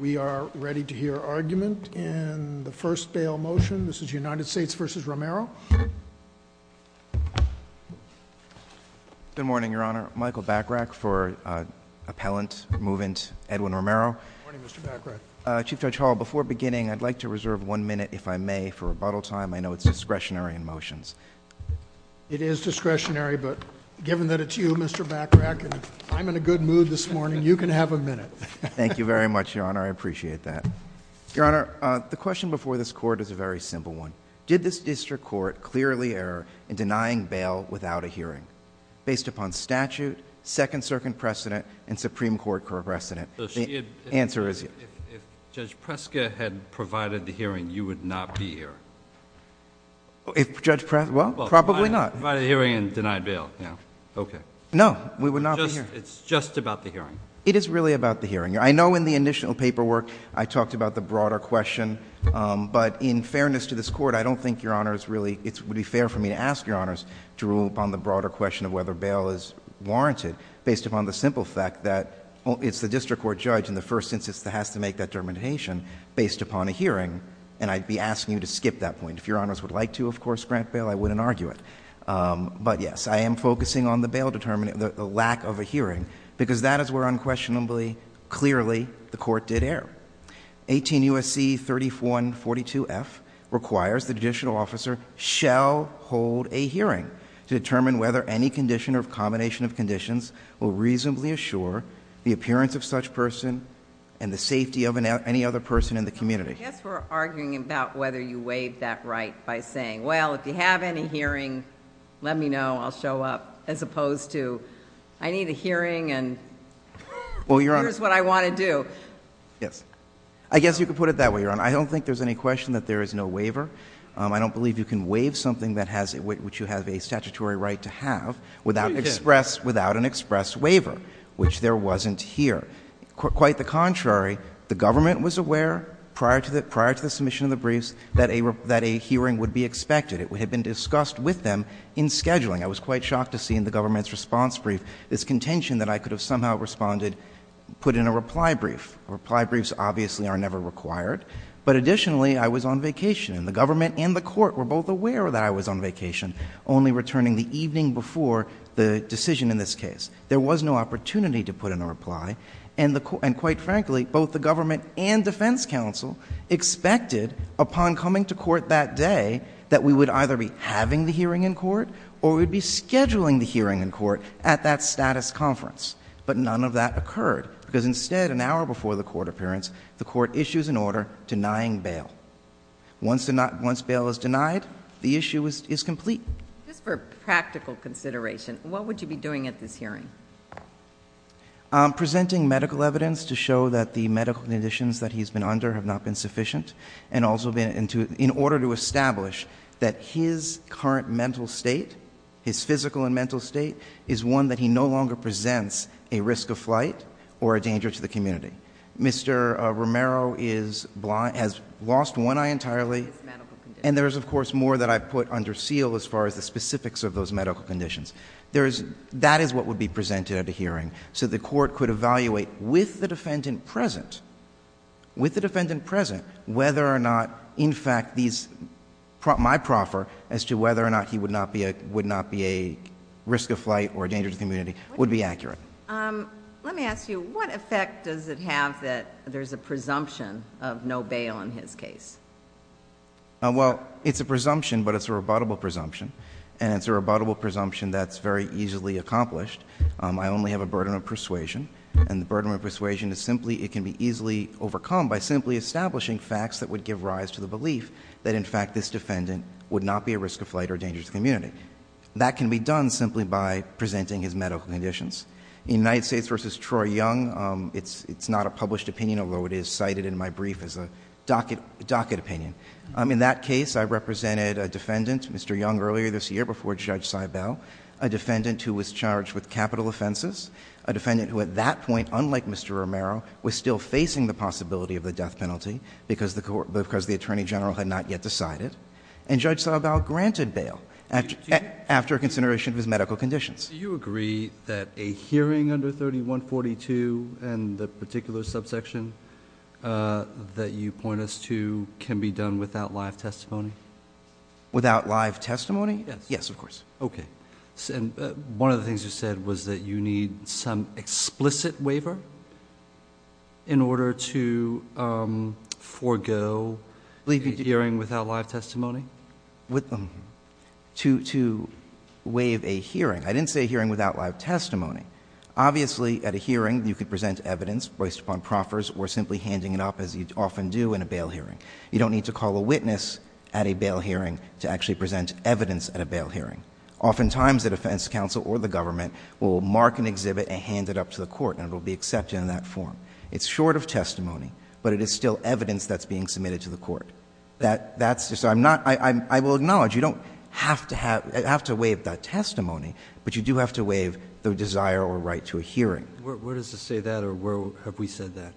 We are ready to hear argument and the first bail motion this is United States v. Romero. Good morning your honor Michael Bachrach for appellant movant Edwin Romero. Chief Judge Hall before beginning I'd like to reserve one minute if I may for rebuttal time I know it's discretionary in motions. It is discretionary but given that it's you Mr. Bachrach and I'm in a good mood this minute. Thank you very much your honor I appreciate that. Your honor the question before this court is a very simple one. Did this district court clearly error in denying bail without a hearing based upon statute, Second Circuit precedent, and Supreme Court precedent? The answer is yes. If Judge Preska had provided the hearing you would not be here. If Judge Preska, well probably not. Provided a hearing and denied bail. No. Okay. No. We would not be here. It's just about the hearing. It is really about the hearing. I know in the initial paperwork I talked about the broader question but in fairness to this court I don't think your honor is really it would be fair for me to ask your honors to rule upon the broader question of whether bail is warranted based upon the simple fact that it's the district court judge in the first instance that has to make that determination based upon a hearing and I'd be asking you to skip that point. If your honors would like to of course grant that argument. But yes I am focusing on the bail determinant, the lack of a hearing because that is where unquestionably clearly the court did err. 18 U.S.C. 3142 F requires the judicial officer shall hold a hearing to determine whether any condition or combination of conditions will reasonably assure the appearance of such person and the safety of any other person in the community. I guess we're arguing about whether you weighed that right by saying well if you have any hearing let me know I'll show up as opposed to I need a hearing and here's what I want to do. Yes I guess you could put it that way your honor. I don't think there's any question that there is no waiver. I don't believe you can waive something that has it which you have a statutory right to have without express without an express waiver which there wasn't here. Quite the contrary the government was aware prior to the prior to the submission of the briefs that a hearing would be expected. It would have been discussed with them in scheduling. I was quite shocked to see in the government's response brief this contention that I could have somehow responded put in a reply brief. Reply briefs obviously are never required but additionally I was on vacation and the government and the court were both aware that I was on vacation only returning the evening before the decision in this case. There was no opportunity to put in a reply and quite frankly both the government and defense counsel expected upon coming to court that day that we would either be having the hearing in court or we'd be scheduling the hearing in court at that status conference but none of that occurred because instead an hour before the court appearance the court issues an order denying bail. Once bail is denied the issue is complete. Just for practical consideration what would you be doing at this hearing? I'm presenting medical evidence to show that the medical conditions that he's been under have not been sufficient and also been in order to establish that his current mental state his physical and mental state is one that he no longer presents a risk of flight or a danger to the community. Mr. Romero has lost one eye entirely and there is of course more that I put under seal as far as the specifics of those medical conditions. That is what would be presented at the hearing so the court could evaluate with the defendant present, with the defendant present whether or not in fact my proffer as to whether or not he would not be a risk of flight or a danger to the community would be accurate. Let me ask you what effect does it have that there's a presumption of no bail in his case? Well, it's a presumption but it's a rebuttable presumption and it's a presumption. I only have a burden of persuasion and the burden of persuasion is simply it can be easily overcome by simply establishing facts that would give rise to the belief that in fact this defendant would not be a risk of flight or a danger to the community. That can be done simply by presenting his medical conditions. In United States v. Troy Young it's not a published opinion although it is cited in my brief as a docket opinion. In that case I represented a defendant, Mr. Young, earlier this year before Judge Seibel, a defendant who at that point, unlike Mr. Romero, was still facing the possibility of the death penalty because the Attorney General had not yet decided. And Judge Seibel granted bail after consideration of his medical conditions. Do you agree that a hearing under 3142 and the particular subsection that you point us to can be done without live testimony? Without live testimony? Yes. Yes, of course. Okay. And one of the things you said was that you need some explicit waiver in order to forego a hearing without live testimony? To waive a hearing. I didn't say a hearing without live testimony. Obviously at a hearing you could present evidence voiced upon proffers or simply handing it up as you often do in a bail hearing. You don't need to call a witness at a bail hearing. Oftentimes the defense counsel or the government will mark an exhibit and hand it up to the court and it will be accepted in that form. It's short of testimony, but it is still evidence that's being submitted to the court. That's just, I'm not, I will acknowledge you don't have to have, have to waive that testimony, but you do have to waive the desire or right to a hearing. Where does it say that or where have we said that?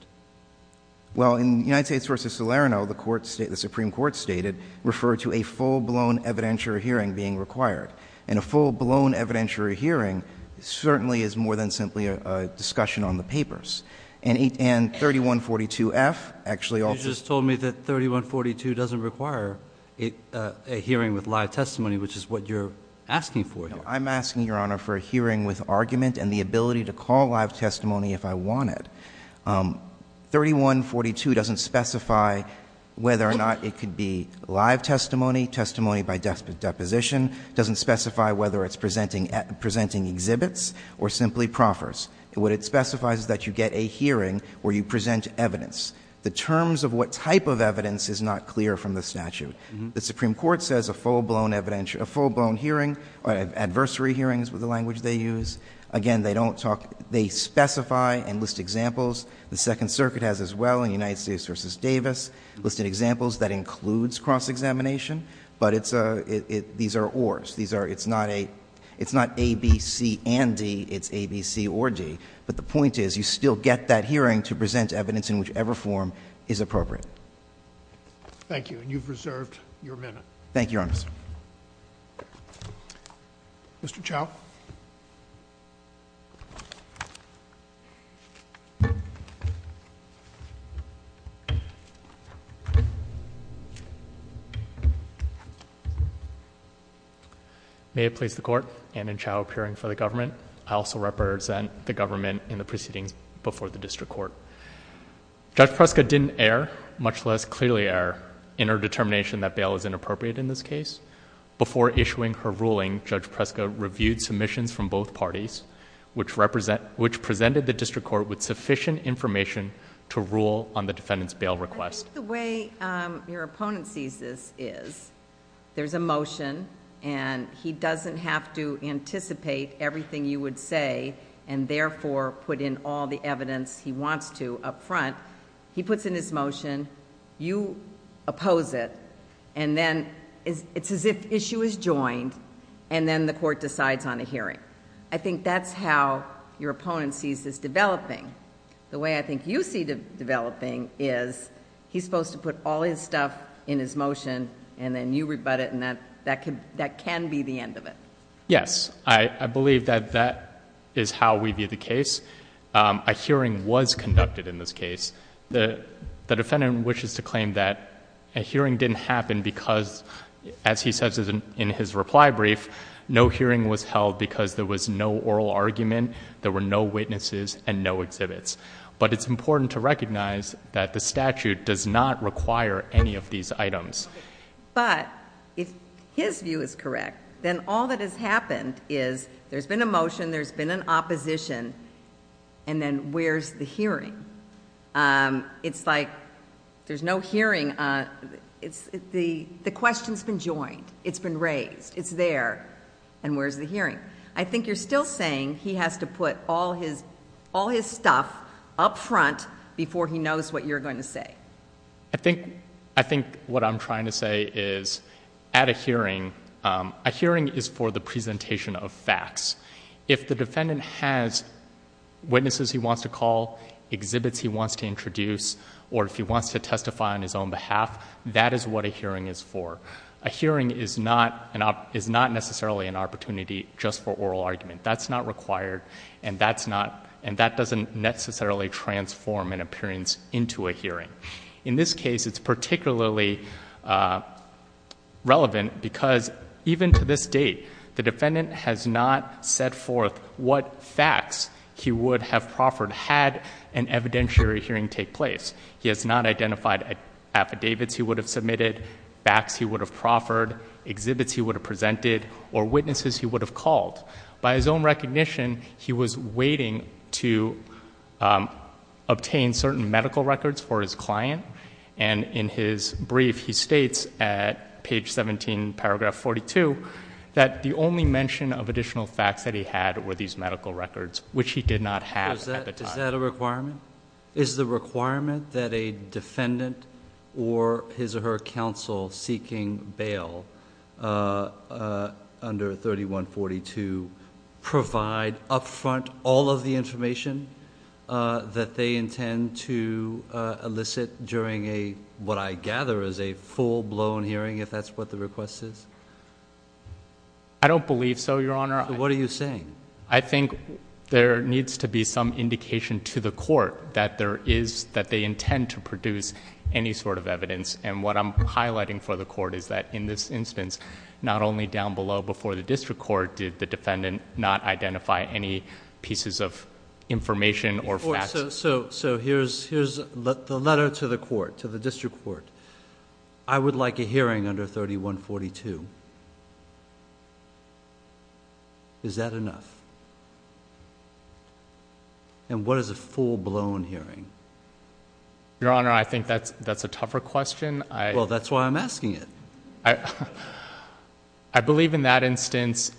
Well in United States v. Salerno the Supreme Court stated refer to a full-blown evidentiary hearing being required. And a full-blown evidentiary hearing certainly is more than simply a discussion on the papers. And 3142F actually also You just told me that 3142 doesn't require a hearing with live testimony, which is what you're asking for here. I'm asking, Your Honor, for a hearing with argument and the ability to call live testimony if I want it. 3142 doesn't specify whether or not it could be live testimony, testimony by deposition, doesn't specify whether it's presenting exhibits or simply proffers. What it specifies is that you get a hearing where you present evidence. The terms of what type of evidence is not clear from the statute. The Supreme Court says a full-blown hearing, or adversary hearings with the language they use. Again, they don't talk, they specify and list examples. The Second Circuit has as well in United States v. Davis listed examples that includes cross-examination, but these are ors. It's not A, B, C, and D. It's A, B, C, or D. But the point is, you still get that hearing to present evidence in whichever form is appropriate. Thank you. And you've reserved your minute. Thank you, Your Honor. Mr. Chau. May it please the Court, Anand Chau appearing for the government. I also represent the government in the proceedings before the District Court. Judge Preska didn't err, much less clearly err, in her determination that bail is inappropriate in this case. Before issuing her ruling, Judge Preska reviewed submissions from both parties, which presented the District Court with sufficient information to rule on the defendant's bail request. I think the way your opponent sees this is, there's a motion and he doesn't have to anticipate everything you would say and therefore put in all the evidence he wants to up front. He puts in his motion, you oppose it, and then it's as if issue is joined, and then the court decides on a hearing. I think that's how your opponent sees this developing. The way I think you see it developing is, he's supposed to put all his stuff in his motion and then you rebut it and that can be the end of it. Yes. I believe that that is how we view the case. A hearing was conducted in this case. The defendant wishes to claim that a hearing didn't happen because, as he says in his reply brief, no hearing was held because there was no oral argument, there were no witnesses and no exhibits. It's important to recognize that the statute does not require any of these items. If his view is correct, then all that has happened is there's been a motion, there's been an opposition, and then where's the hearing? It's like there's no hearing. The question's been joined, it's been raised, it's there, and where's the hearing? I think you're still saying he has to put all his stuff up front before he knows what you're going to say. I think what I'm trying to say is, at a hearing, a hearing is for the presentation of facts. If the defendant has witnesses he wants to call, exhibits he wants to introduce, or if he wants to testify on his own behalf, that is what a hearing is for. A hearing is not necessarily an opportunity just for oral argument. That's not required, and that doesn't necessarily transform an appearance into a hearing. In this case, it's particularly relevant because, even to this date, the defendant has not set forth what facts he would have proffered had an evidentiary hearing take place. He has not identified affidavits he would have submitted, facts he would have proffered, exhibits he would have presented, or witnesses he would have called. By his own recognition, he was waiting to obtain certain medical records for his client, and in his brief, he states at page 17, paragraph 42, that the only mention of additional facts that he had were these medical records, which he did not have at the time. Is that a requirement? Is the requirement that a defendant or his or her counsel seeking bail under 3142 provide upfront all of the information that they intend to elicit during what I gather is a full-blown hearing, if that's what the request is? I don't believe so, Your Honor. What are you saying? I think there needs to be some indication to the court that there is... that they intend to produce any sort of evidence, and what I'm highlighting for the court is that, in this instance, not only down below before the district court did the defendant not identify any pieces of information or facts... So here's the letter to the court, to the district court. I would like a brief, and what is a full-blown hearing? Your Honor, I think that's a tougher question. Well, that's why I'm asking it. I believe in that instance,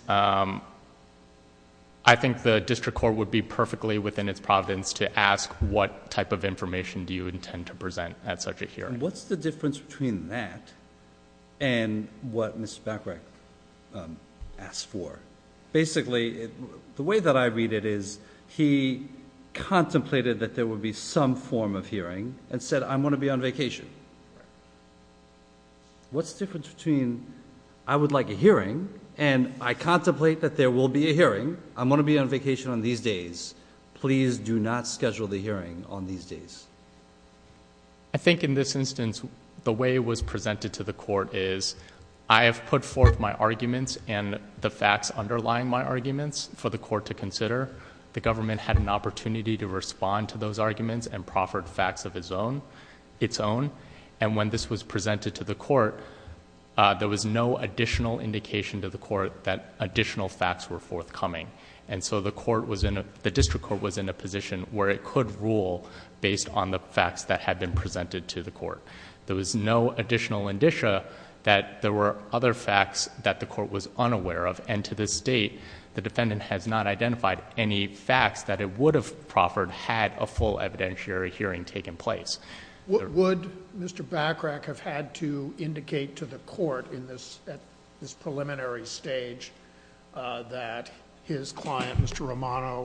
I think the district court would be perfectly within its providence to ask what type of information do you intend to present at such a hearing. What's the difference between that and what Mr. Bachrach asked for? Basically, the way that I read it is, he contemplated that there would be some form of hearing, and said, I'm going to be on vacation. What's the difference between, I would like a hearing, and I contemplate that there will be a hearing, I'm going to be on vacation on these days, please do not schedule the hearing on these days? I think in this instance, the way it was presented to the court is, I have put forth my arguments and the facts underlying my arguments for the court to consider. The government had an opportunity to respond to those arguments and proffered facts of its own. When this was presented to the court, there was no additional indication to the court that additional facts were forthcoming. The district court was in a position where it could rule based on the facts that had been presented to the court. There was no additional indicia that there were other facts that the court was unaware of, and to this date, the defendant has not identified any facts that it would have proffered had a full evidentiary hearing taken place. Would Mr. Bachrach have had to indicate to the court at this preliminary stage that his client, Mr. Romero,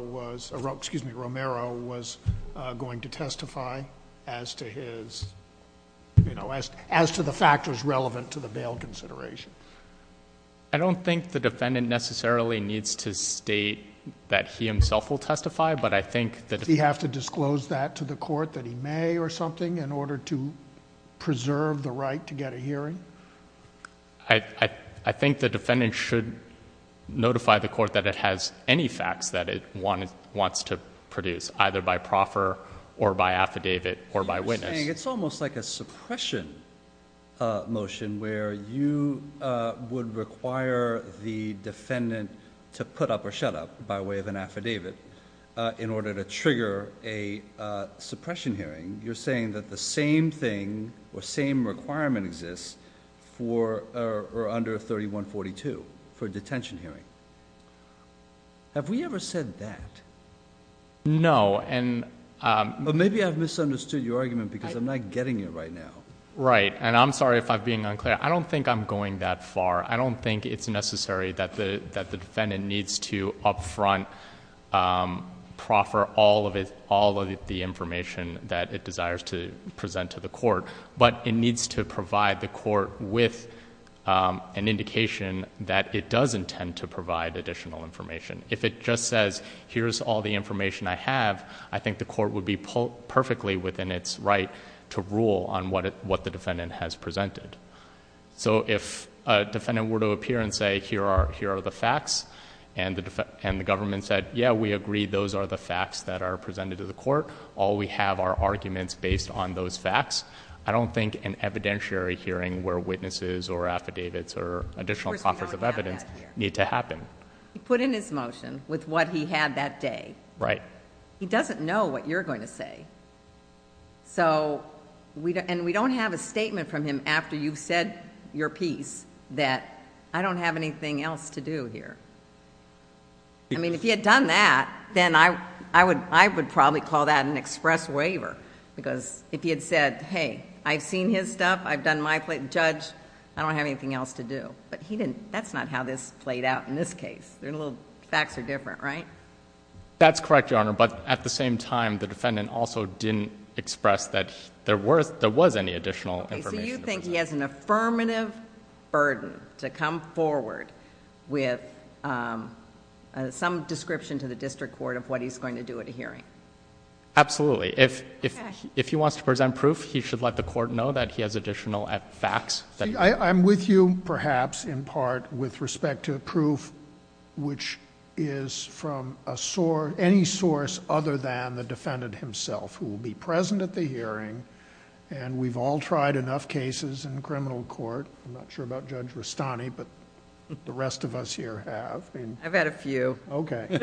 was going to testify as to the factors relevant to the bail consideration? I don't think the defendant necessarily needs to state that he himself will testify, but I think... Does he have to disclose that to the court that he may or something in order to preserve the right to get a hearing? I think the defendant should notify the court that it has any facts that it wants to produce, either by proffer or by affidavit or by witness. You're saying it's almost like a suppression motion where you would require the defendant to put up or shut up by way of an affidavit in order to trigger a suppression hearing. You're saying that the same thing or same requirement exists for or under 3142 for detention hearing. Have we ever said that? No. Maybe I've misunderstood your argument because I'm not getting it right now. Right. I'm sorry if I'm being unclear. I don't think I'm going that far. I don't think it's necessary that the defendant needs to upfront proffer all of the information that it desires to present to the court, but it needs to provide the court with an indication that it does intend to provide additional information. If it just says, here's all the information I have, I think the court would be perfectly within its right to rule on what the defendant has presented. If a defendant were to appear and say, here are the facts, and the government said, yeah, we agree, those are the facts that are presented to the court, all we have are arguments based on those facts, I don't think an evidentiary hearing where witnesses or affidavits or additional proffers of evidence need to happen. He put in his motion with what he had that day. Right. He doesn't know what you're going to say, and we don't have a statement from him after you've said your piece that I don't have anything else to do here. I mean, if he had done that, then I would probably call that an express waiver, because if he had said, hey, I've seen his stuff, I've done my... Judge, I don't have anything else to do, but that's not how this played out in this case. The facts are different, right? That's correct, Your Honor, but at the same time, the defendant also didn't express that there was any additional information. Do you think he has an affirmative burden to come forward with some description to the district court of what he's going to do at a hearing? Absolutely. If he wants to present proof, he should let the court know that he has additional facts. I'm with you, perhaps, in part, with respect to proof which is from any source other than the defendant himself who will be present at the hearing, and we've all tried enough cases in criminal court, I'm not sure about Judge Rastani, but the rest of us here have. I've had a few. Okay.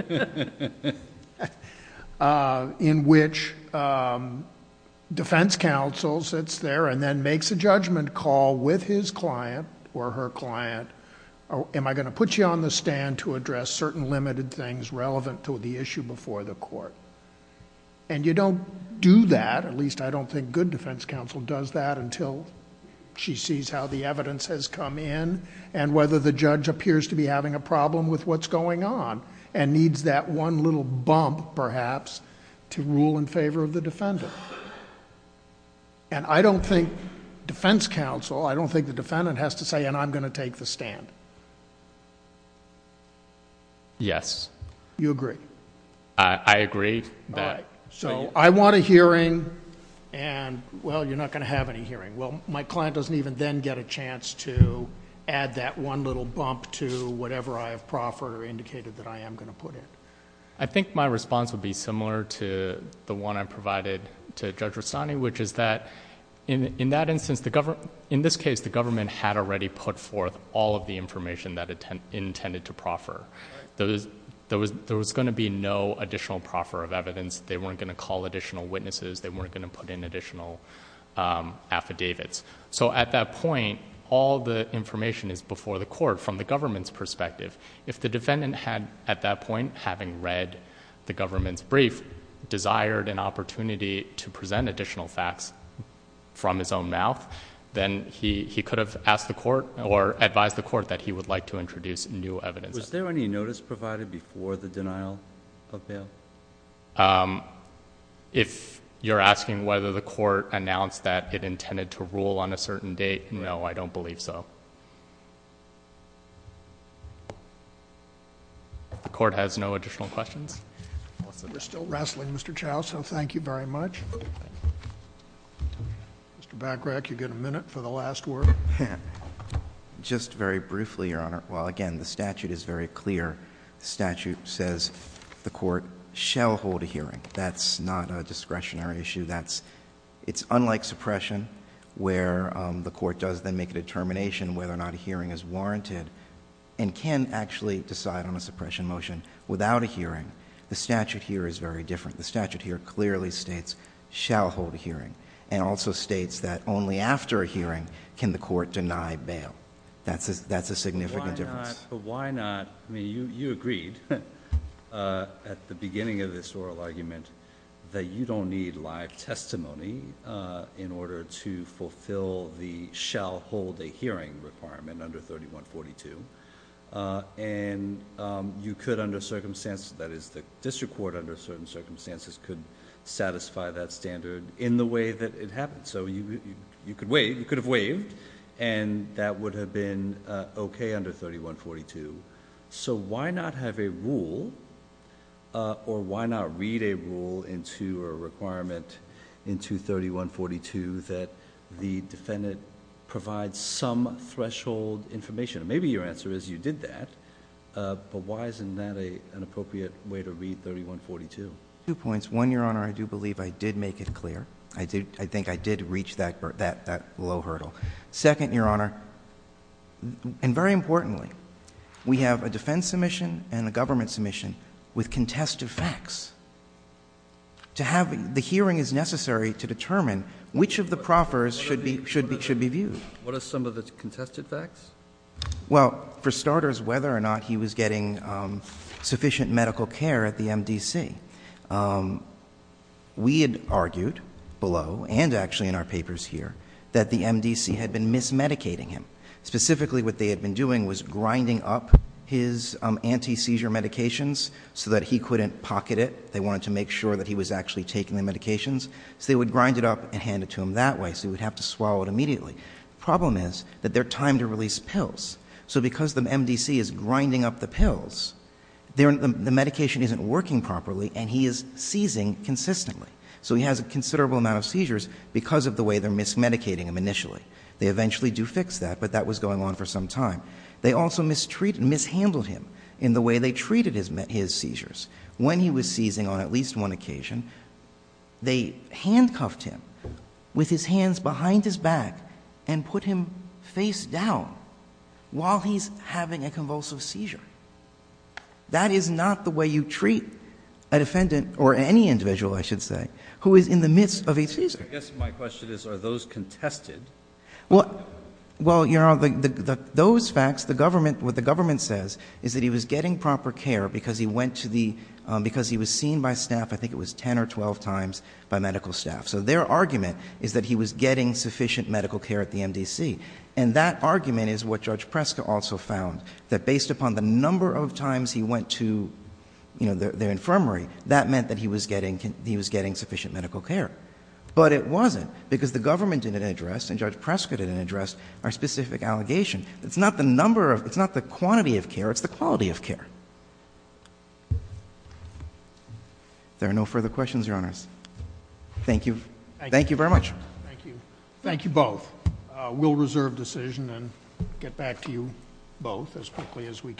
In which defense counsel sits there and then makes a judgment call with his client or her client, am I going to put you on the stand to address certain limited things relevant to the issue before the court? You don't do that, at least I don't think good defense counsel does that until she sees how the evidence has come in and whether the judge appears to be having a problem with what's going on and needs that one little bump, perhaps, to rule in favor of the defendant. I don't think defense counsel, I don't think the defendant has to say, and I'm going to take the stand. Yes. You agree? I agree that... So I want a hearing and, well, you're not going to have any hearing. Well, my client doesn't even then get a chance to add that one little bump to whatever I have proffered or indicated that I am going to put in. I think my response would be similar to the one I provided to Judge Rastani, which is that in that instance, in this case, the government had already put forth all of the information that it intended to proffer. There was going to be no additional proffer of evidence. They weren't going to call additional witnesses. They weren't going to put in additional affidavits. So at that point, all the information is before the court from the government's perspective. If the defendant had, at that point, having read the government's brief, desired an opportunity to present additional facts from his own mouth, then he could have asked the court or advised the court that he would like to introduce new evidence. Was there any notice provided before the denial of bail? If you're asking whether the court announced that it intended to rule on a certain date, no, I don't believe so. The court has no additional questions. We're still wrestling, Mr. Chow, so thank you very much. Mr. Bagrac, you get a minute for the last word. Just very briefly, Your Honor, while, again, the statute is very clear, the statute says the court shall hold a hearing. That's not a discretionary issue. It's unlike suppression where the court does then make a determination whether or not a hearing is warranted and can actually decide on a suppression motion without a hearing. The statute here is very different. The statute here clearly states shall hold a hearing and also states that only after a hearing can the court deny bail. That's a significant difference. Why not? You agreed at the beginning of this oral argument that you don't need live testimony in order to fulfill the shall hold a hearing requirement under 3142. You could under circumstances, that is the district court under certain circumstances, could satisfy that standard in the way that it happened. You could have waived and that would have been okay under 3142. Why not have a rule, or why not read a rule into a requirement into 3142 that the defendant provides some threshold information? Maybe your answer is you did that, but why isn't that an appropriate way to read 3142? Two points. One, Your Honor, I do believe I did make it clear. I think I did reach that low hurdle. Second, Your Honor, and very importantly, we have a defense submission and a government submission with contested facts. The hearing is necessary to determine which of the proffers should be viewed. What are some of the contested facts? Well, for starters, whether or not he was getting sufficient medical care at the MDC. We had argued below, and actually in our papers here, that the MDC had been mismedicating him. Specifically what they had been doing was grinding up his anti-seizure medications so that he couldn't pocket it. They wanted to make sure that he was actually taking the medications. So they would grind it up and hand it to him that way. So he would have to swallow it immediately. Problem is that they're timed to release pills. So because the MDC is grinding up the pills, the medication isn't working properly and he is seizing consistently. So he has a considerable amount of seizures because of the way they're mismedicating him initially. They eventually do fix that, but that was going on for some time. They also mishandled him in the way they treated his seizures. When he was seizing on at least one occasion, they handcuffed him with his face down while he's having a convulsive seizure. That is not the way you treat a defendant or any individual, I should say, who is in the midst of a seizure. I guess my question is, are those contested? Well, those facts, what the government says is that he was getting proper care because he was seen by staff, I think it was 10 or 12 times, by medical staff. So their argument is that he was getting sufficient medical care at the MDC. And that argument is what Judge Prescott also found, that based upon the number of times he went to their infirmary, that meant that he was getting sufficient medical care. But it wasn't, because the government didn't address and Judge Prescott didn't address our specific allegation. It's not the number of, it's not the quantity of care, it's the quality of care. There are no further questions, Your Honors. Thank you. Thank you very much. Thank you. Thank you both. We'll reserve decision and get back to you both as quickly as we can.